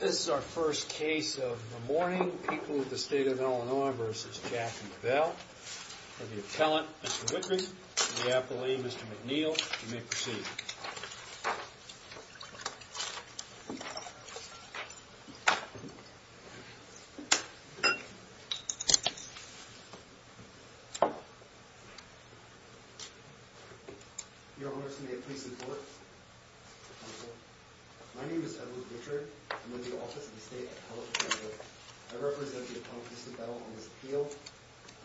This is our first case of the morning. People of the state of Illinois v. Jackson v. Bell. We have the appellant, Mr. Whitrick, and the appellee, Mr. McNeil. You may proceed. Your Honor, may I please report? Counsel, my name is Edward Whitrick. I'm with the Office of the State Appellate Counsel. I represent the appellant, Mr. Bell, on this appeal.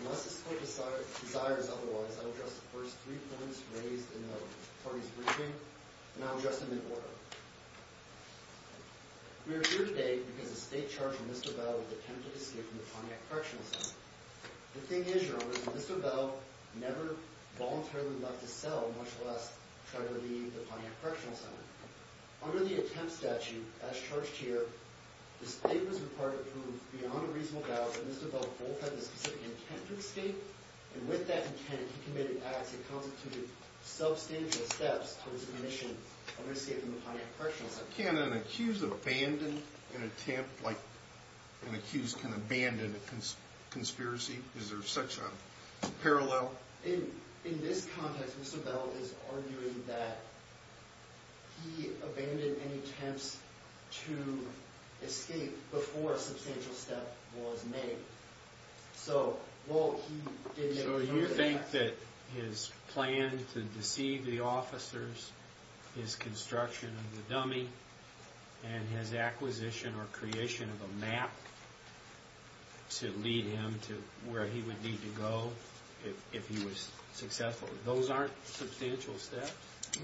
Unless the court desires otherwise, I will address the first three points raised in the party's briefing, and I will address them in order. We are here today because the state charged Mr. Bell with the attempted escape from the Pontiac Correctional Center. The thing is, Your Honor, Mr. Bell never voluntarily left his cell, much less tried to leave the Pontiac Correctional Center. Under the attempt statute as charged here, the state was required to prove beyond a reasonable doubt that Mr. Bell both had the specific intent to escape, and with that intent, he committed acts that constituted substantial steps towards the commission of escaping the Pontiac Correctional Center. Can an accused abandon an attempt like an accused can abandon a conspiracy? Is there such a parallel? In this context, Mr. Bell is arguing that he abandoned any attempts to escape before a substantial step was made. So you think that his plan to deceive the officers, his construction of the dummy, and his acquisition or creation of a map to lead him to where he would need to go if he was successful, those aren't substantial steps?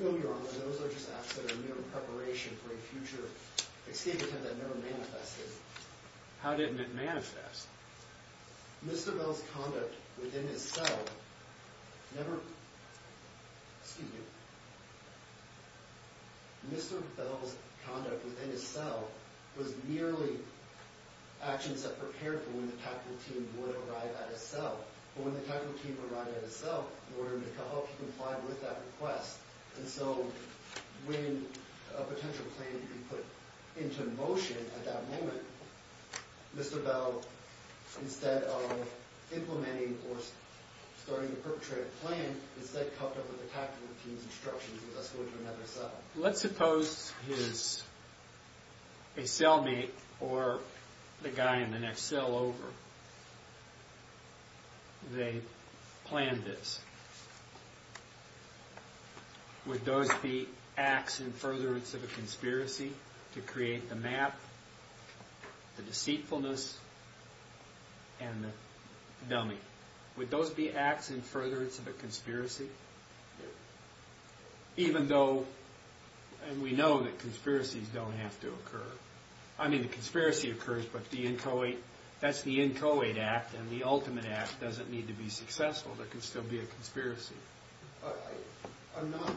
No, Your Honor, those are just acts that are mere preparation for a future escape attempt that never manifested. How didn't it manifest? Mr. Bell's conduct within his cell was merely actions that prepared for when the tactical team would arrive at his cell. But when the tactical team arrived at his cell, in order to help him comply with that request, and so when a potential plan needed to be put into motion at that moment, Mr. Bell, instead of implementing or starting to perpetrate a plan, instead copped up with the tactical team's instructions with us going to another cell. Let's suppose a cellmate or the guy in the next cell over, they planned this. Would those be acts in furtherance of a conspiracy to create the map, the deceitfulness, and the dummy? Would those be acts in furtherance of a conspiracy? Even though we know that conspiracies don't have to occur. I mean, a conspiracy occurs, but that's the inchoate act, and the ultimate act doesn't need to be successful. There can still be a conspiracy. I'm not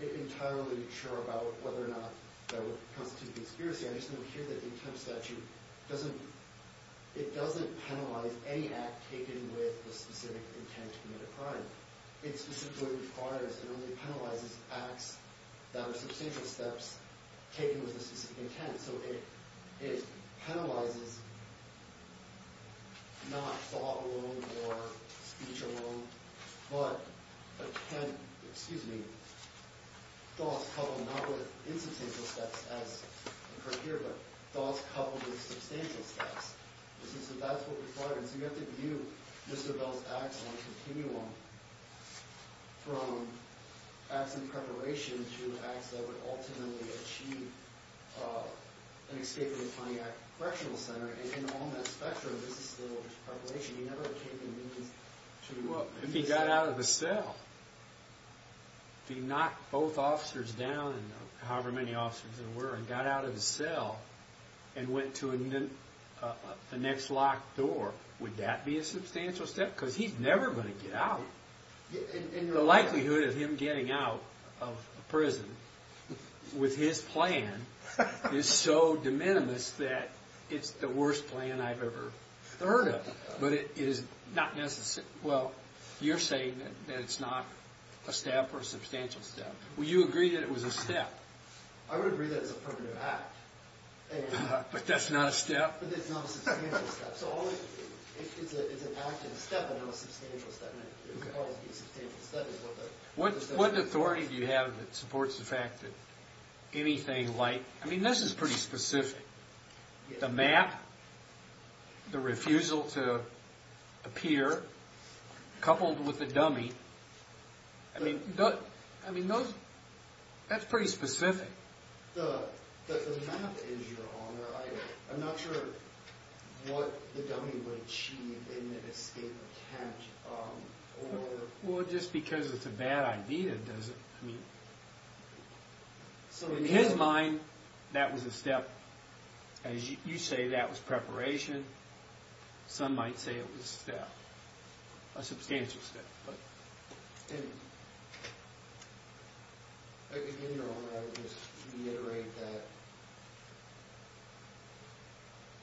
entirely sure about whether or not that would constitute a conspiracy. I just know here that the intent statute doesn't penalize any act taken with the specific intent to commit a crime. It specifically requires and only penalizes acts that are substantial steps taken with a specific intent. So it penalizes not thought alone or speech alone, but thoughts coupled not with insubstantial steps as occurred here, but thoughts coupled with substantial steps. So you have to view Mr. Bell's acts on a continuum from acts in preparation to acts that would ultimately achieve an escape from the Pontiac Correctional Center. And on that spectrum, this is still just preparation. He never came to the meetings to— If he got out of the cell, if he knocked both officers down, however many officers there were, and got out of the cell and went to the next locked door, would that be a substantial step? Because he's never going to get out. The likelihood of him getting out of prison with his plan is so de minimis that it's the worst plan I've ever heard of. But it is not necessary. Well, you're saying that it's not a step or a substantial step. Would you agree that it was a step? I would agree that it's a primitive act. But that's not a step? But it's not a substantial step. So if it's an act and a step and not a substantial step, then it would always be a substantial step. What authority do you have that supports the fact that anything like—I mean, this is pretty specific. The map, the refusal to appear, coupled with the dummy, I mean, that's pretty specific. The map is your honor. I'm not sure what the dummy would achieve in an escape attempt. Well, just because it's a bad idea doesn't mean— So in his mind, that was a step. As you say, that was preparation. Some might say it was a step, a substantial step. In your honor, I would just reiterate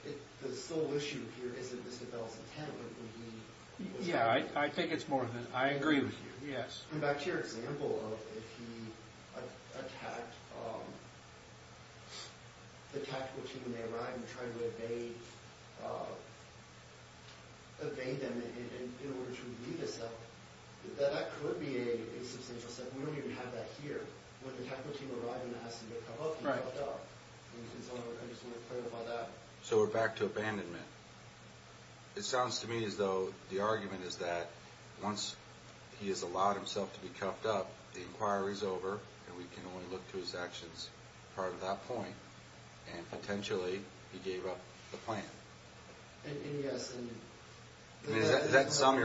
that the sole issue here isn't Isabel's intent, but would be— Yeah, I think it's more than—I agree with you, yes. Going back to your example of if he attacked the tactical team when they arrived and tried to evade them in order to leave his cell, that could be a substantial step. We don't even have that here. When the tactical team arrived and asked him to come up, he dropped out. I just want to clarify that. So we're back to abandonment. It sounds to me as though the argument is that once he has allowed himself to be cuffed up, the inquiry is over, and we can only look to his actions prior to that point, and potentially he gave up the plan. Yes, and— That is the sum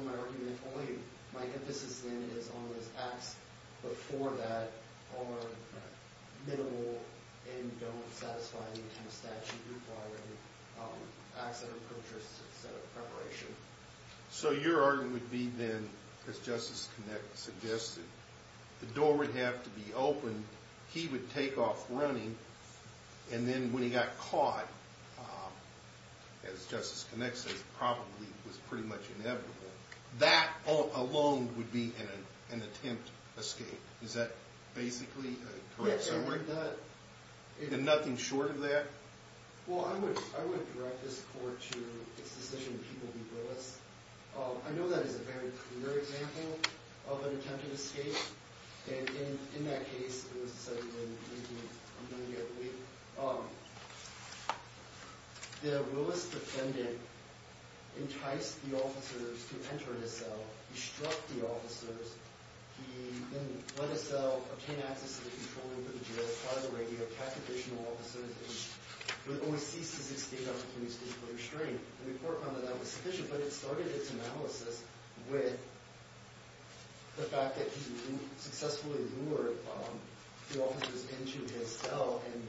of my argument. Only my emphasis, then, is on his acts before that are minimal and don't satisfy the statute requiring acts that are purchased instead of preparation. So your argument would be, then, as Justice Connick suggested, the door would have to be open, he would take off running, and then when he got caught, as Justice Connick says, probably was pretty much inevitable. That alone would be an attempt escape. Is that basically a correct summary? Yes, and would that— And nothing short of that? Well, I would direct this Court to its decision, people be realists. I know that is a very clear example of an attempted escape, and in that case, it was decided in 19—I'm going to be up late. The realist defendant enticed the officers to enter his cell. He struck the officers. He then let his cell obtain access to the control room for the jail, caught the radio, captured additional officers, and then when he ceased his escape, that was when he was physically restrained. The Court found that that was sufficient, but it started its analysis with the fact that he successfully lured the officers into his cell and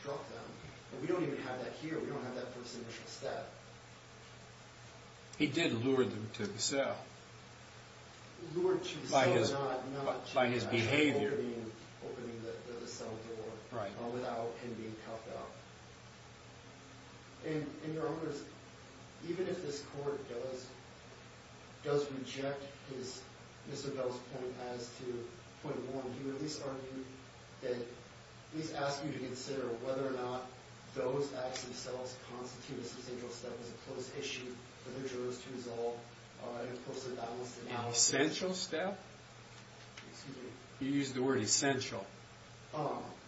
struck them. We don't even have that here. We don't have that first initial step. He did lure them to his cell. Lured to his cell, not— By his behavior. By opening the cell door. Right. Without him being caught out. And, Your Honors, even if this Court does reject Mr. Bell's point as to point one, he would at least argue that—at least ask you to consider whether or not those acts themselves constitute a substantial step as a close issue for the jurors to resolve in a closely balanced— An essential step? Excuse me. You used the word essential.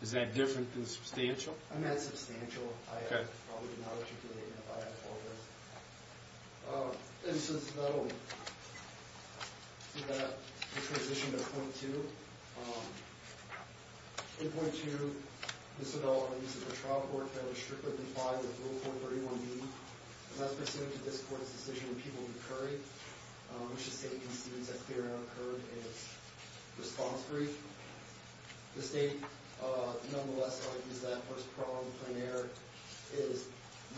Is that different than substantial? I meant substantial. Okay. I probably would not articulate it if I had all of those. And so, that'll do that. We transition to point two. In point two, Mr. Bell argues that the trial court failed to strictly comply with Rule 431B, and that's pursuant to this Court's decision in People v. Curry, which the State concedes that clearing of a curb is response-free. The State, nonetheless, argues that this problem is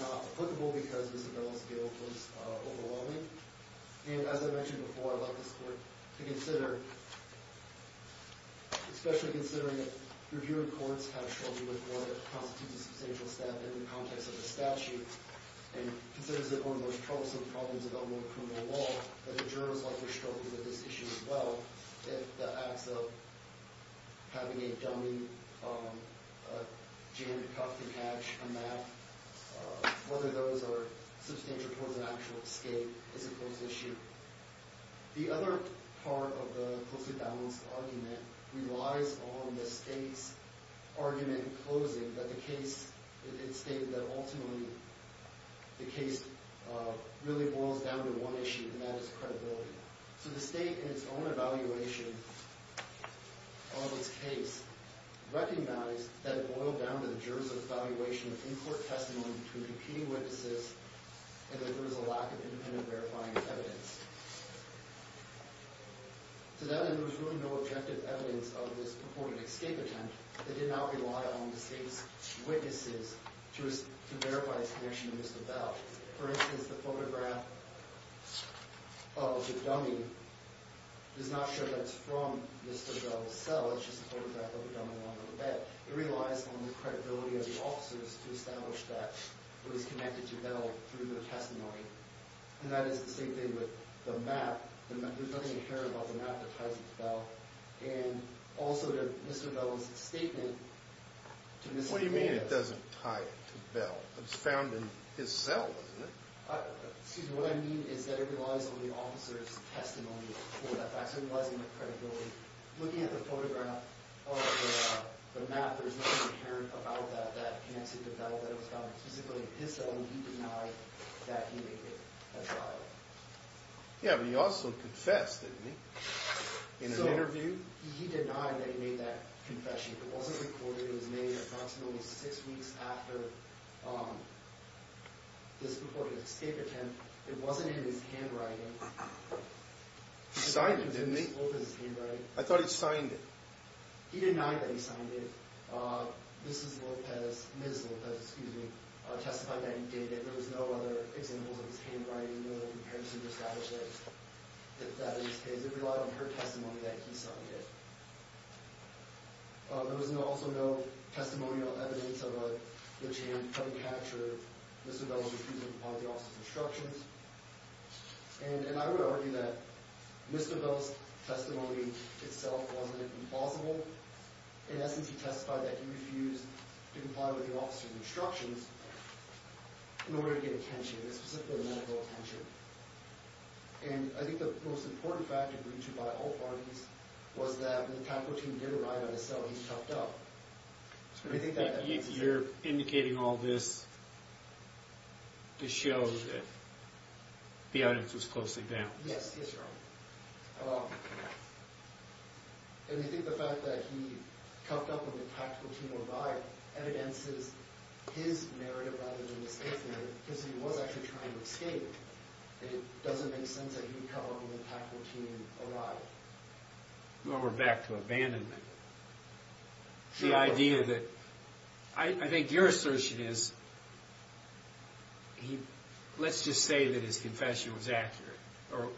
not applicable because Mr. Bell's guilt was overwhelming. And, as I mentioned before, I'd like this Court to consider, especially considering that reviewer courts have struggled with whether it constitutes a substantial step in the context of the statute, and considers it one of those troublesome problems about more criminal law, that the jurors like to struggle with this issue as well, that the acts of having a dummy jammed cuff to catch a map, whether those are substantial towards an actual escape, is a close issue. The other part of the closely balanced argument relies on the State's argument in closing that the case, it stated that ultimately the case really boils down to one issue, and that is credibility. So the State, in its own evaluation of its case, recognized that it boiled down to the jurors' evaluation of in-court testimony between competing witnesses and that there was a lack of independent verifying evidence. To that end, there was really no objective evidence of this purported escape attempt. It did not rely on the State's witnesses to verify its connection to Mr. Bell. For instance, the photograph of the dummy does not show that it's from Mr. Bell's cell. It's just a photograph of the dummy lying on the bed. But it relies on the credibility of the officers to establish that it was connected to Bell through their testimony. And that is the same thing with the map. There's nothing inherent about the map that ties it to Bell. And also to Mr. Bell's statement to Ms. Hernandez. What do you mean it doesn't tie it to Bell? It was found in his cell, wasn't it? Excuse me. What I mean is that it relies on the officers' testimony for that fact. Looking at the photograph of the map, there's nothing inherent about that that connects it to Bell. That it was found specifically in his cell, and he denied that he made it as well. Yeah, but he also confessed, didn't he? In an interview? He denied that he made that confession. It wasn't recorded. It was made approximately six weeks after this purported escape attempt. It wasn't in his handwriting. He signed it, didn't he? It was in Ms. Lopez's handwriting. I thought he'd signed it. He denied that he signed it. Ms. Lopez testified that he did it. There was no other examples of his handwriting in order to establish that that is his. It relied on her testimony that he signed it. There was also no testimonial evidence of the attempt to capture Mr. Bell's refusal to follow the officer's instructions. And I would argue that Mr. Bell's testimony itself wasn't implausible. In essence, he testified that he refused to comply with the officer's instructions in order to get attention, and specifically medical attention. And I think the most important fact agreed to by all parties was that when the time routine did arrive at his cell, he toughed up. You're indicating all this to show that the audience was closely bound. Yes, yes, sir. And we think the fact that he toughed up when the tactical team arrived evidences his narrative rather than Ms. Lopez's narrative, because he was actually trying to escape. And it doesn't make sense that he toughed up when the tactical team arrived. Well, we're back to abandonment. The idea that, I think your assertion is, let's just say that his confession was accurate,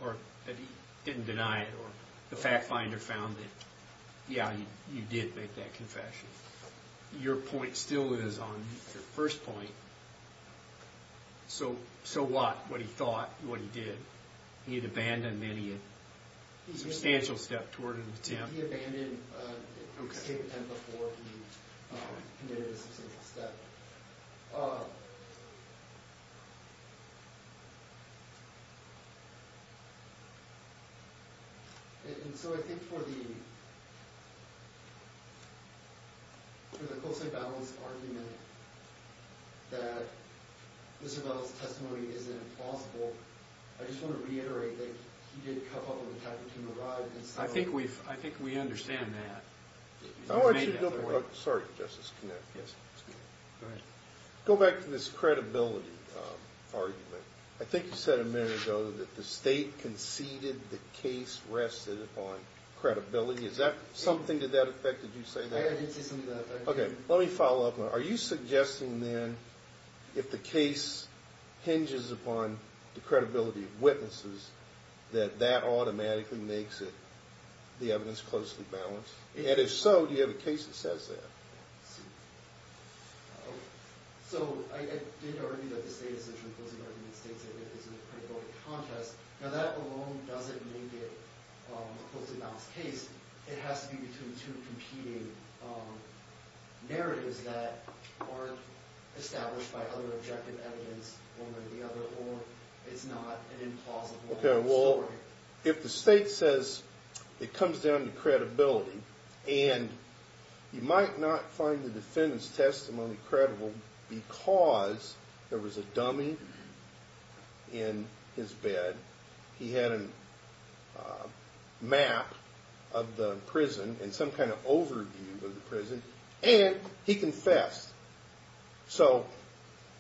or that he didn't deny it, or the fact finder found that, yeah, you did make that confession. Your point still is on your first point, so what? What he thought, what he did. He had abandoned, then he had substantial stepped toward an attempt. He abandoned escape attempt before he committed a substantial step. And so I think for the close-knit balance argument that Mr. Bell's testimony is implausible, I just want to reiterate that he did tough up when the tactical team arrived. I think we understand that. I want you to go back to this credibility argument. I think you said a minute ago that the state conceded the case rested upon credibility. Is that something to that effect? Did you say that? Okay, let me follow up on that. Are you suggesting, then, if the case hinges upon the credibility of witnesses, that that automatically makes the evidence closely balanced? And if so, do you have a case that says that? Let's see. So, I did argue that the state essentially closing argument states that it is a credibility contest. Now, that alone doesn't make it a closely balanced case. It has to be between two competing narratives that aren't established by other objective evidence, one way or the other, or it's not an implausible story. Okay, well, if the state says it comes down to credibility, and you might not find the defendant's testimony credible because there was a dummy in his bed, he had a map of the prison and some kind of overview of the prison, and he confessed. So,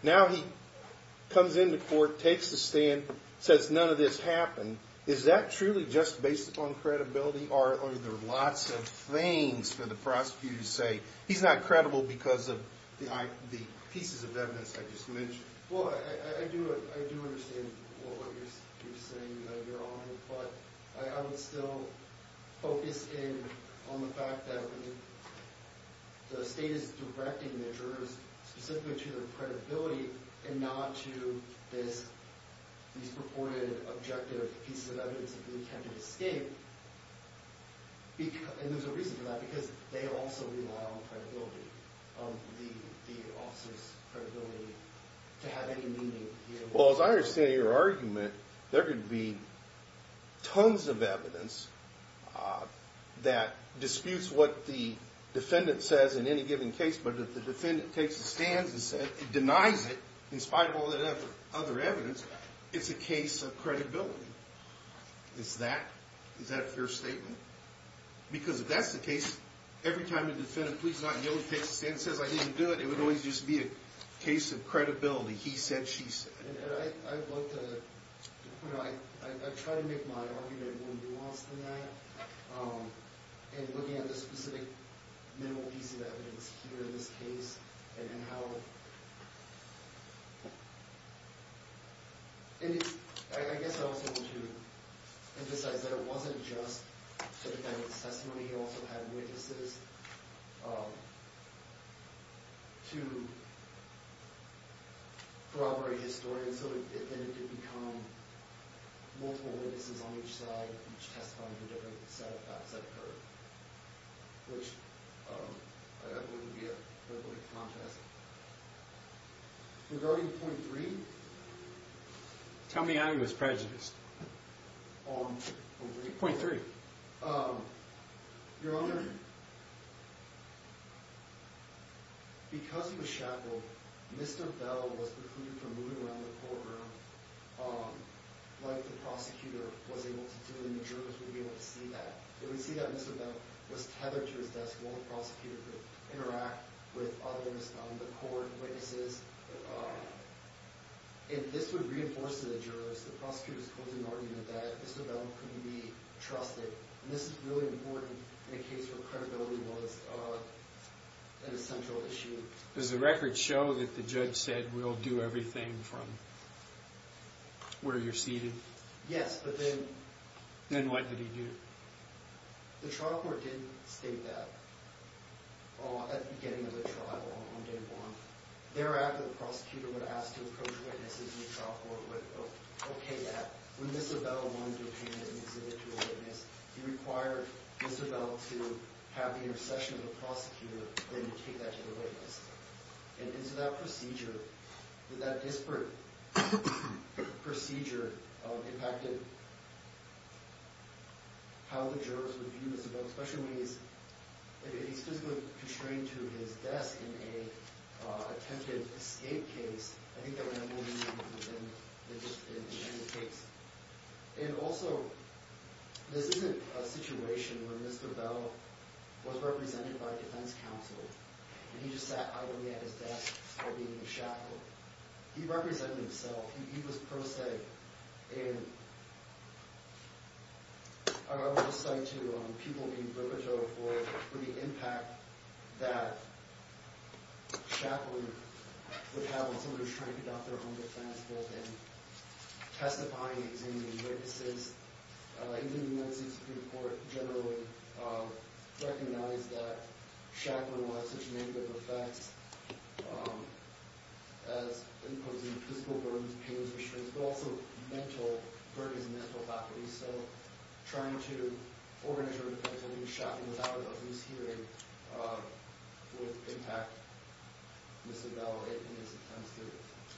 now he comes into court, takes the stand, says none of this happened. Is that truly just based upon credibility, or are there lots of things for the prosecutor to say, he's not credible because of the pieces of evidence I just mentioned? Well, I do understand what you're saying, Your Honor, but I would still focus in on the fact that the state is directing the jurors specifically to their credibility and not to these purported objective pieces of evidence that they intend to escape. And there's a reason for that, because they also rely on credibility, the officer's credibility to have any meaning here. Well, as I understand your argument, there could be tons of evidence that disputes what the defendant says in any given case, but if the defendant takes a stand and denies it in spite of all that other evidence, it's a case of credibility. Is that a fair statement? Because if that's the case, every time the defendant pleads not guilty and takes a stand and says, I didn't do it, it would always just be a case of credibility, he said, she said. And I'd love to, you know, I try to make my argument more nuanced than that, and looking at the specific minimal piece of evidence here in this case, and how... I guess I also want to emphasize that it wasn't just the defendant's testimony. He also had witnesses to corroborate his story, and so it ended to become multiple witnesses on each side, each testifying to different set of facts that occurred, which I don't think would be a very good contrast. Regarding point three... Tell me how he was prejudiced. Point three. Your Honor, because he was shackled, Mr. Bell was precluded from moving around the courtroom like the prosecutor was able to do, and the jurors wouldn't be able to see that. If we see that Mr. Bell was tethered to his desk while the prosecutor could interact with others, the court, witnesses, if this would reinforce to the jurors the prosecutor's closing argument that Mr. Bell couldn't be trusted, and this is really important in a case where credibility was an essential issue. Does the record show that the judge said, we'll do everything from where you're seated? Yes, but then... The trial court did state that at the beginning of the trial on day one. Thereafter, the prosecutor would ask to approach witnesses, and the trial court would okay that. When Mr. Bell wanted to appear in an exhibit to a witness, he required Mr. Bell to have the intercession of the prosecutor, then take that to the witness. And so that procedure, that disparate procedure impacted how the jurors would view Mr. Bell, especially when he's physically constrained to his desk in an attempted escape case. I think that would have more meaning within the case. And also, this isn't a situation where Mr. Bell was represented by a defense counsel, and he just sat idly at his desk while being shackled. He represented himself. He was prosaic. And I would just say to people in Brooklyn Jail for the impact that shackling would have when somebody was trying to conduct their own defense, both in testifying, examining witnesses. Even the United States Supreme Court generally recognized that shackling would have such negative effects as imposing physical burdens, pains, restraints, but also mental burdens and mental faculties. So trying to organize your defense and shackle without a loose hearing would impact Mr. Bell in his attempts to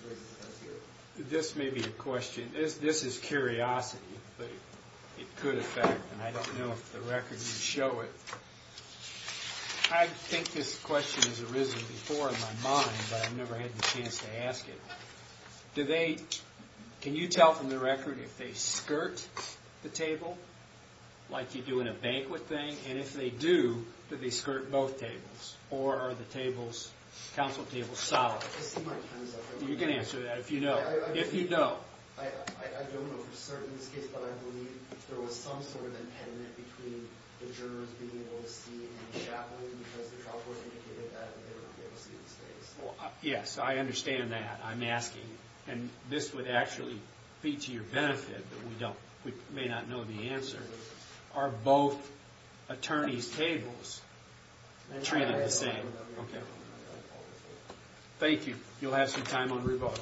raise his defense here. This may be a question. This is curiosity, but it could affect. And I don't know if the record would show it. I think this question has arisen before in my mind, but I've never had the chance to ask it. Can you tell from the record if they skirt the table, like you do in a banquet thing? And if they do, do they skirt both tables? Or are the counsel tables solid? You can answer that if you know. If you know. Yes, I understand that. I'm asking. And this would actually be to your benefit, but we may not know the answer. Are both attorneys' tables treated the same? Thank you. You'll have some time on rebuttal.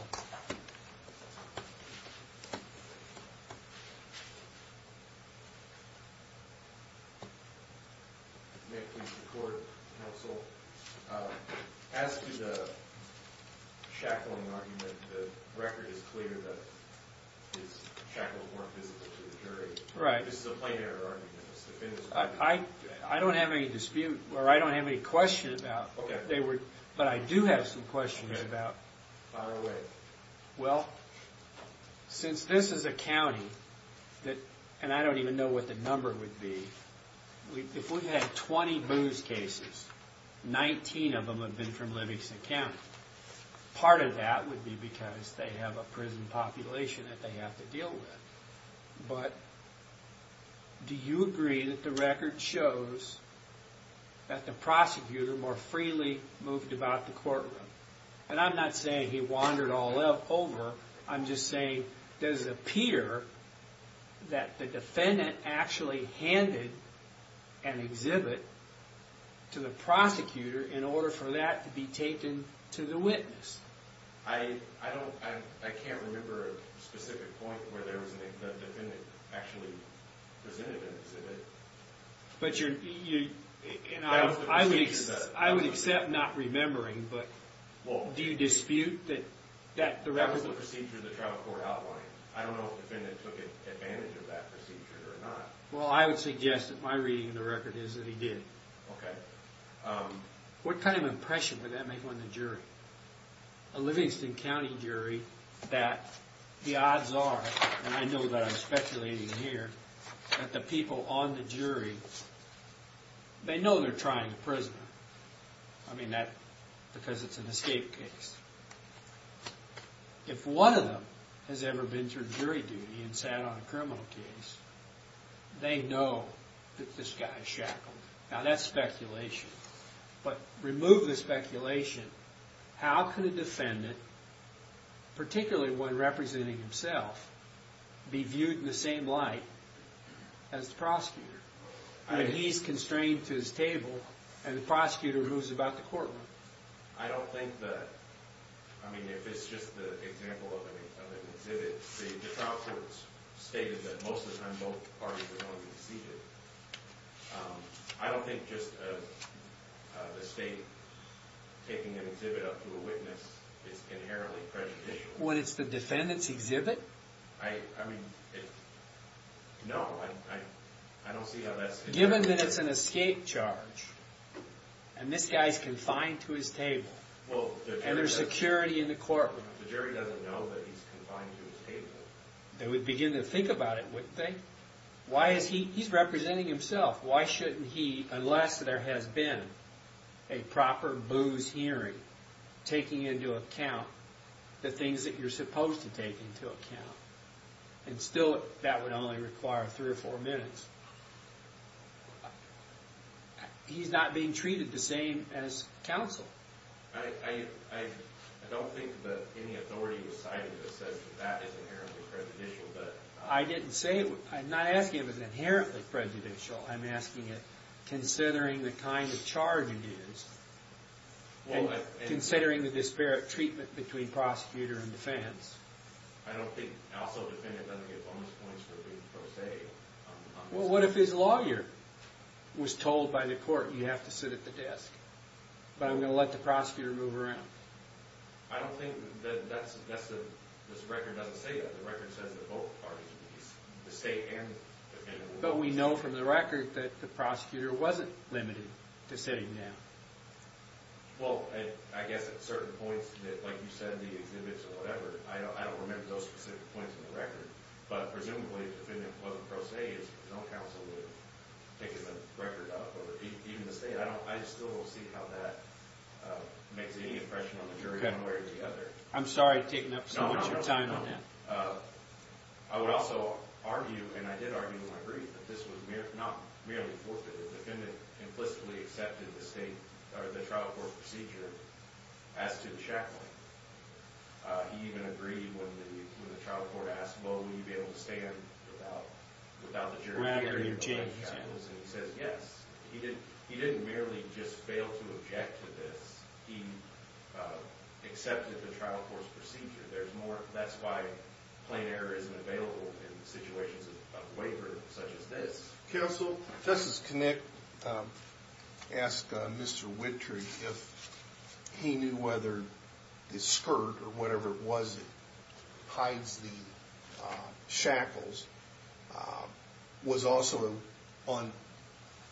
May I please record, counsel, as to the shackling argument, the record is clear that it's shackled more physically to the jury. This is a plain error argument. I don't have any dispute, or I don't have any question about... But I do have some questions about... Well, since this is a county, and I don't even know what the number would be. If we had 20 booze cases, 19 of them have been from Livingston County. Part of that would be because they have a prison population that they have to deal with. But do you agree that the record shows that the prosecutor more freely moved about the courtroom? And I'm not saying he wandered all over. I'm just saying, does it appear that the defendant actually handed an exhibit to the prosecutor in order for that to be taken to the witness? I can't remember a specific point where the defendant actually presented an exhibit. I would accept not remembering, but do you dispute that the record... That was the procedure the trial court outlined. I don't know if the defendant took advantage of that procedure or not. Well, I would suggest that my reading of the record is that he did. Okay. What kind of impression would that make on the jury? A Livingston County jury that the odds are, and I know that I'm speculating here, that the people on the jury, they know they're trying to prison him. I mean that because it's an escape case. If one of them has ever been through jury duty and sat on a criminal case, they know that this guy is shackled. Now, that's speculation. But remove the speculation. How could a defendant, particularly one representing himself, be viewed in the same light as the prosecutor? I mean, he's constrained to his table, and the prosecutor moves about the courtroom. I don't think that... I mean, if it's just the example of an exhibit, the trial court stated that most of the time both parties are going to be seated. I don't think just the state taking an exhibit up to a witness is inherently prejudicial. When it's the defendant's exhibit? I mean, no, I don't see how that's... Given that it's an escape charge, and this guy's confined to his table, and there's security in the courtroom. The jury doesn't know that he's confined to his table. They would begin to think about it, wouldn't they? He's representing himself. Why shouldn't he, unless there has been a proper booze hearing, taking into account the things that you're supposed to take into account? And still that would only require three or four minutes. He's not being treated the same as counsel. I don't think that any authority was cited that says that that is inherently prejudicial, but... I didn't say it. I'm not asking if it's inherently prejudicial. I'm asking it considering the kind of charge it is, and considering the disparate treatment between prosecutor and defense. I don't think also the defendant doesn't get bonus points for being pro se. Well, what if his lawyer was told by the court, you have to sit at the desk, but I'm going to let the prosecutor move around. I don't think that this record doesn't say that. The record says that both parties, the state and the defendant... But we know from the record that the prosecutor wasn't limited to sitting down. Well, I guess at certain points, like you said, the exhibits or whatever, I don't remember those specific points in the record, but presumably if the defendant wasn't pro se, his own counsel would have taken the record up, or even the state. I still don't see how that makes any impression on the jury one way or the other. I'm sorry, taking up so much of your time on that. I would also argue, and I did argue and agree, that this was not merely forfeited. The defendant implicitly accepted the trial court procedure as to the shackling. He even agreed when the trial court asked, Will we be able to stand without the jury hearing the life shackles? And he says yes. He didn't merely just fail to object to this. He accepted the trial court's procedure. That's why plain error isn't available in situations of waiver such as this. Counsel, Justice Kinnick asked Mr. Whitry if he knew whether the skirt or whatever it was that hides the shackles was also on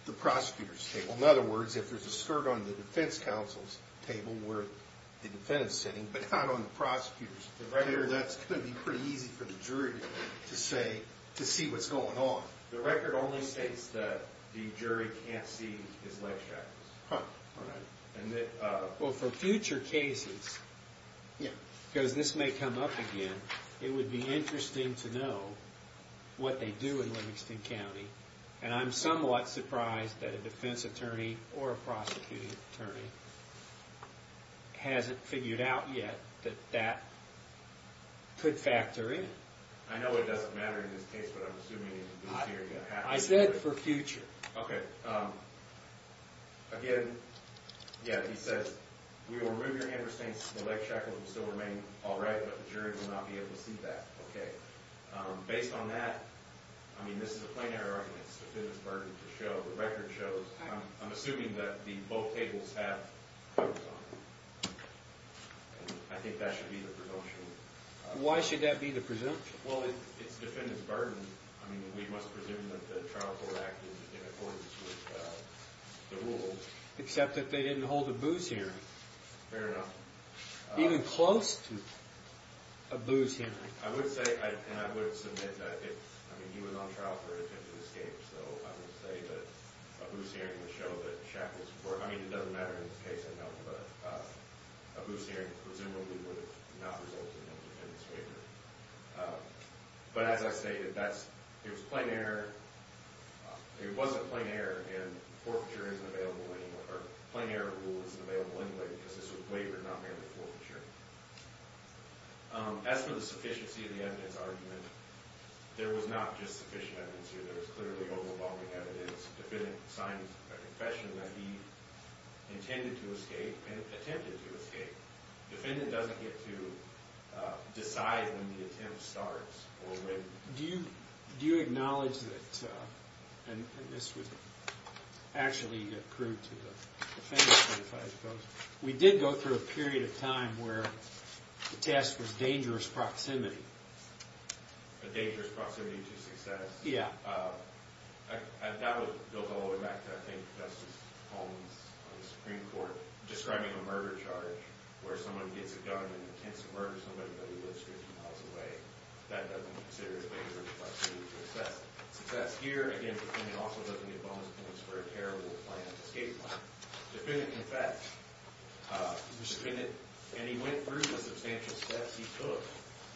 the prosecutor's table. In other words, if there's a skirt on the defense counsel's table where the defendant's sitting, but not on the prosecutor's table, that's going to be pretty easy for the jury to see what's going on. The record only states that the jury can't see his life shackles. Well, for future cases, because this may come up again, it would be interesting to know what they do in Livingston County. And I'm somewhat surprised that a defense attorney or a prosecuting attorney hasn't figured out yet that that could factor in. I know it doesn't matter in this case, but I'm assuming it would be serious. I said for future. Okay. Again, yeah, he says, we will remove your hand restraints, the leg shackles will still remain all right, but the jury will not be able to see that. Okay. Based on that, I mean, this is a plain error argument. It's the defendant's burden to show. The record shows. I'm assuming that both tables have covers on them. I think that should be the presumption. Why should that be the presumption? Well, it's the defendant's burden. I mean, we must presume that the trial court acted in accordance with the rules. Except that they didn't hold a booze hearing. Fair enough. Even close to a booze hearing. I would say, and I would submit that, I mean, he was on trial for attempted escape, so I would say that a booze hearing would show that shackles were, I mean, it doesn't matter in this case, I know, but a booze hearing presumably would have not resulted in a defendant's waiver. But as I stated, it was plain error. It wasn't plain error, and forfeiture isn't available anymore. Or plain error rule isn't available anyway because this was waivered, not merely forfeiture. As for the sufficiency of the evidence argument, there was not just sufficient evidence here. There was clearly overwhelming evidence. The defendant signed a confession that he intended to escape and attempted to escape. Defendant doesn't get to decide when the attempt starts or when. Do you acknowledge that, and this would actually accrue to the defendant, I suppose, we did go through a period of time where the test was dangerous proximity. A dangerous proximity to success? Yeah. That would go all the way back to, I think, Justice Holmes on the Supreme Court describing a murder charge where someone gets a gun and intends to murder somebody but he lives 15 miles away. That doesn't consider a waiver of proximity to success. Success here, again, the defendant also doesn't get bonus points for a terrible planned escape plan. Defendant confessed. And he went through the substantial steps he took.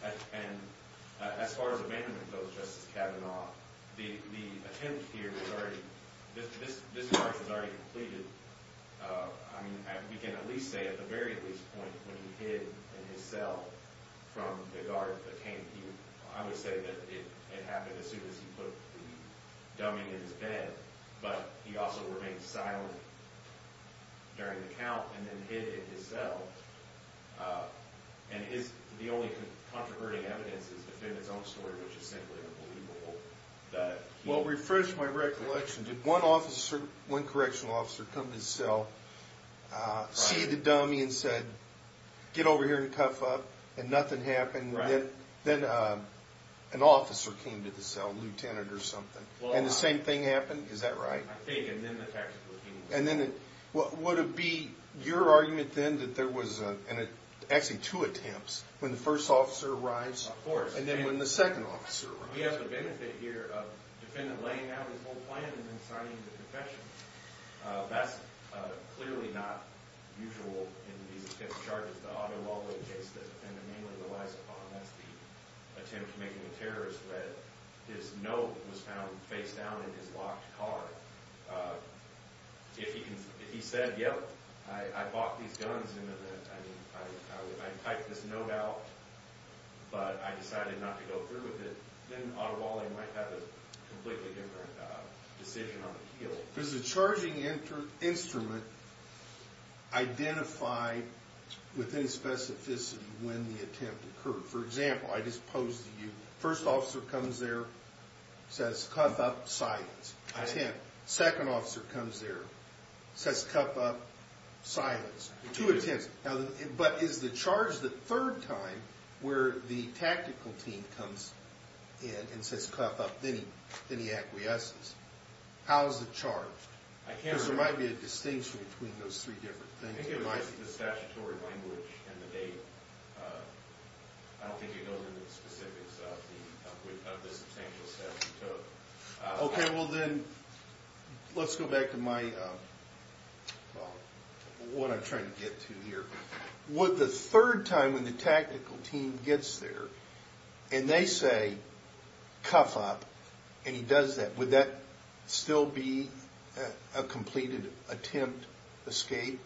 As far as abandonment goes, Justice Kavanaugh, the attempt here was already, this charge was already completed, I mean, we can at least say at the very least point when he hid in his cell from the guard that came to you. I would say that it happened as soon as he put the dummy in his bed, but he also remained silent during the count and then hid in his cell. And the only contraverting evidence is the defendant's own story, which is simply unbelievable. Well, refresh my recollection. Did one correctional officer come to his cell, see the dummy and said, get over here and cuff up, and nothing happened? Right. Then an officer came to the cell, lieutenant or something, and the same thing happened? Is that right? I think, and then the tactical team. Would it be your argument then that there was actually two attempts, when the first officer arrives and then when the second officer arrives? Of course. We have the benefit here of the defendant laying out his whole plan and then signing the confession. That's clearly not usual in these types of charges. The other law-abiding case the defendant mainly relies upon, that's the attempt to make him a terrorist, that his note was found face down in his locked car. If he said, yep, I bought these guns, I typed this note out, but I decided not to go through with it, then Ottawa might have a completely different decision on the heel. Does the charging instrument identify within specificity when the attempt occurred? For example, I just posed to you, first officer comes there, says cuff up, silence, attempt. Second officer comes there, says cuff up, silence. Two attempts. But is the charge the third time where the tactical team comes in and says cuff up, then he acquiesces? How is it charged? Because there might be a distinction between those three different things. I think it was the statutory language and the date. I don't think it goes into the specifics of the substantial steps he took. Okay. Well, then let's go back to what I'm trying to get to here. Would the third time when the tactical team gets there and they say cuff up and he does that, would that still be a completed attempt escape?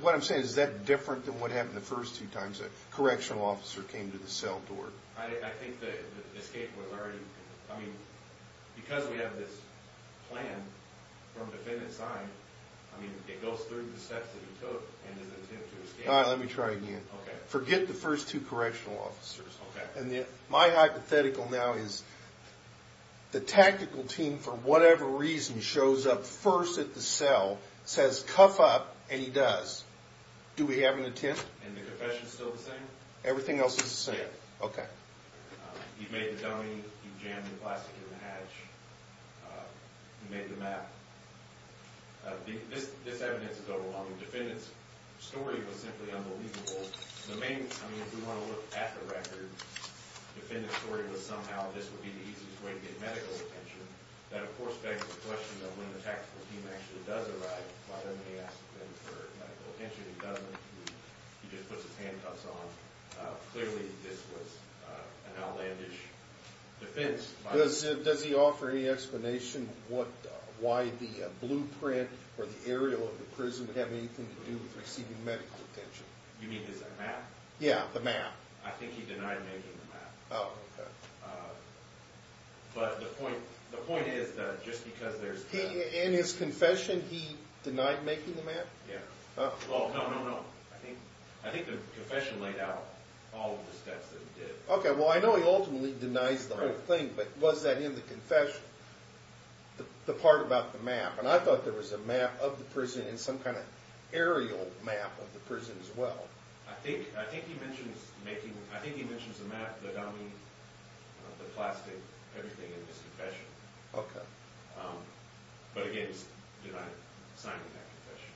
What I'm saying, is that different than what happened the first two times a correctional officer came to the cell door? I think the escape was already, I mean, because we have this plan from defendant's side, I mean, it goes through the steps that he took and his attempt to escape. All right, let me try again. Okay. Forget the first two correctional officers. Okay. My hypothetical now is the tactical team, for whatever reason, shows up first at the cell, says cuff up and he does. Do we have an attempt? And the confession is still the same? Everything else is the same. Okay. He made the dummy, he jammed the plastic in the hatch, he made the map. This evidence is overwhelming. Defendant's story was simply unbelievable. The main, I mean, if we want to look at the record, defendant's story was somehow this would be the easiest way to get medical attention. That, of course, begs the question of when the tactical team actually does arrive, why don't they ask him for medical attention? He doesn't. He just puts his handcuffs on. Clearly this was an outlandish defense. Does he offer any explanation why the blueprint or the aerial of the prison would have anything to do with receiving medical attention? You mean his map? Yeah, the map. I think he denied making the map. Oh, okay. But the point is that just because there's that. In his confession, he denied making the map? Yeah. Oh, no, no, no. I think the confession laid out all of the steps that he did. Okay, well, I know he ultimately denies the whole thing, but was that in the confession, the part about the map? And I thought there was a map of the prison and some kind of aerial map of the prison as well. I think he mentions the map, the dummy, the plastic, everything in his confession. Okay. But, again, he's denying signing that confession.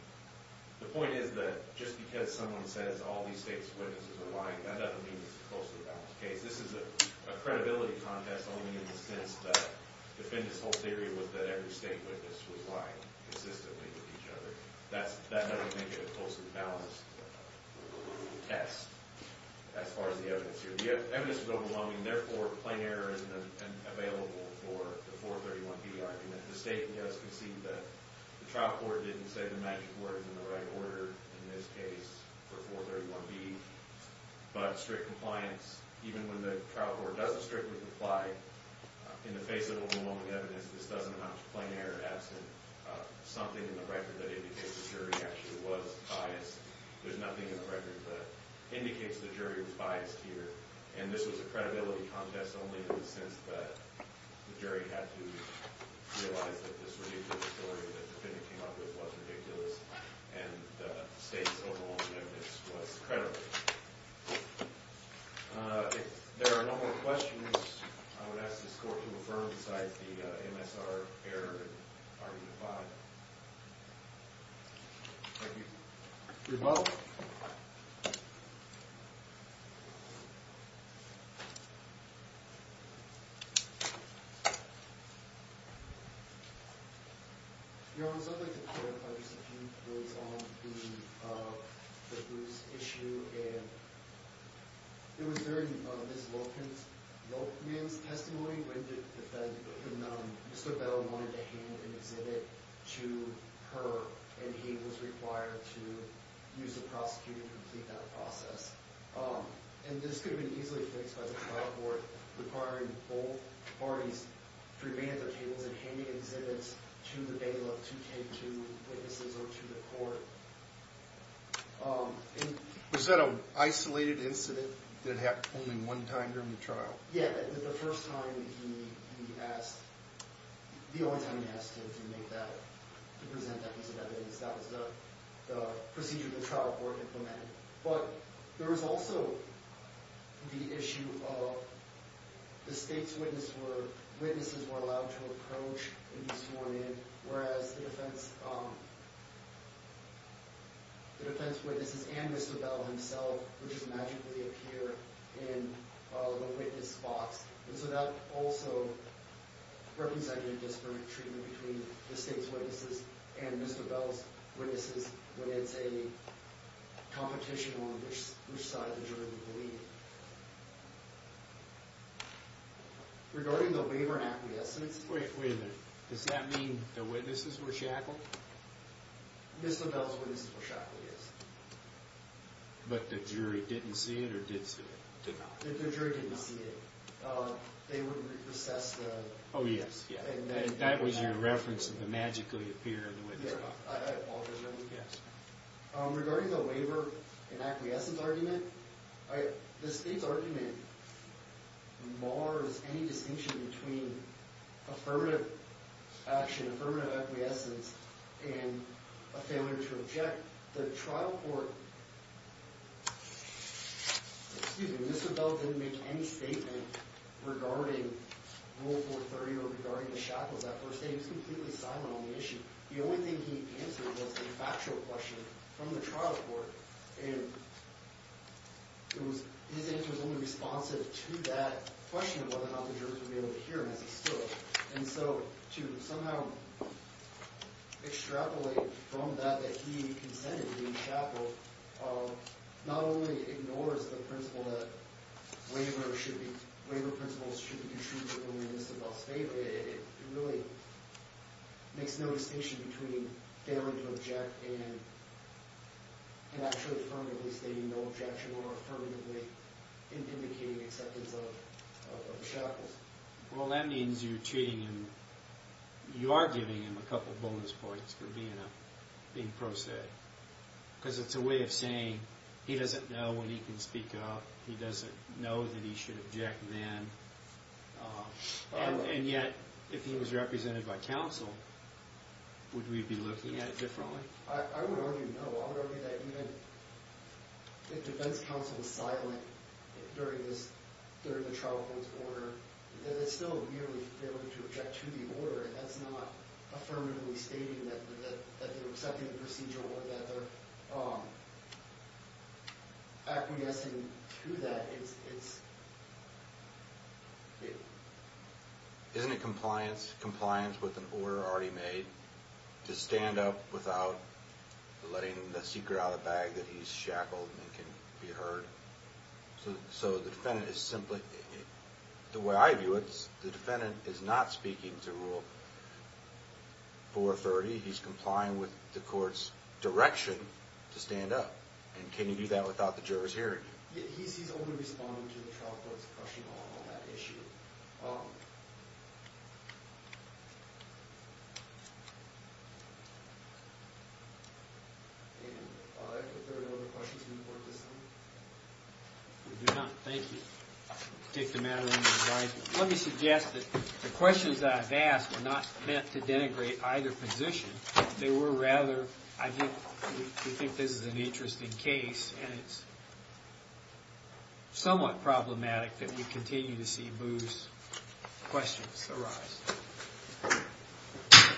The point is that just because someone says all these state's witnesses are lying, that doesn't mean it's a closely balanced case. This is a credibility contest only in the sense that the whole theory was that every state witness was lying consistently with each other. That doesn't make it a closely balanced test as far as the evidence here. The evidence is overwhelming. Therefore, plain error isn't available for the 431B argument. The state has conceded that the trial court didn't say the magic word in the right order in this case for 431B. But strict compliance, even when the trial court doesn't strictly comply, in the face of overwhelming evidence, this doesn't amount to plain error. Something in the record that indicates the jury actually was biased. There's nothing in the record that indicates the jury was biased here. And this was a credibility contest only in the sense that the jury had to realize that this ridiculous story that the defendant came up with was ridiculous and the state's overwhelming evidence was credible. If there are no more questions, I would ask this court to affirm besides the MSR error in argument 5. Thank you. You're welcome. Your Honor, something to clarify just a few words on the Bruce issue. It was during Ms. Lokman's testimony when Mr. Bell wanted to hand an exhibit to her and he was required to use the prosecutor to complete that process. And this could have been easily fixed by the trial court requiring both parties to remain at their tables and handing exhibits to the bailiff to tend to witnesses or to the court. Was that an isolated incident that happened only one time during the trial? Yeah, the first time he asked, the only time he asked to present that piece of evidence, that was the procedure the trial court implemented. But there was also the issue of the state's witnesses were allowed to approach and be sworn in, whereas the defense witnesses and Mr. Bell himself, which magically appear in the witness box. And so that also represented a disparate treatment between the state's witnesses and Mr. Bell's witnesses when it's a competition on which side the jury would believe. Regarding the waiver and acquiescence... Wait, wait a minute. Does that mean the witnesses were shackled? Mr. Bell's witnesses were shackled, yes. But the jury didn't see it or did see it? The jury didn't see it. They would recess the... Oh, yes, yes. And that was your reference of the magically appear in the witness box. I apologize, Your Honor. Yes. Regarding the waiver and acquiescence argument, the state's argument mars any distinction between affirmative action, affirmative acquiescence, and a failure to object. The trial court... Excuse me. Mr. Bell didn't make any statement regarding Rule 430 or regarding the shackles that first day. He was completely silent on the issue. The only thing he answered was a factual question from the trial court. And his answer was only responsive to that question of whether or not the jurors would be able to hear him as he stood. And so to somehow extrapolate from that that he consented to be shackled not only ignores the principle that waiver principles should be construed with only Mr. Bell's favor, but it really makes no distinction between failing to object and actually affirmatively stating no objection or affirmatively indicating acceptance of the shackles. Well, that means you're treating him... you are giving him a couple bonus points for being pro se. Because it's a way of saying he doesn't know when he can speak up. He doesn't know that he should object then. And yet, if he was represented by counsel, would we be looking at it differently? I would argue no. I would argue that even if defense counsel is silent during the trial court's order, then it's still merely failing to object to the order. And that's not affirmatively stating that they're accepting the procedure or that they're acquiescing to that. Isn't it compliance with an order already made to stand up without letting the seeker out of the bag that he's shackled and can be heard? So the defendant is simply... the way I view it, the defendant is not speaking to Rule 430. He's complying with the court's direction to stand up. And can you do that without the jurors hearing you? He's only responding to the trial court's question on that issue. If there are no other questions before this time? We do not. Thank you. I'll take the matter under advisement. Let me suggest that the questions that I've asked were not meant to denigrate either position. They were rather... I think this is an interesting case, and it's somewhat problematic that we continue to see Booth's questions arise.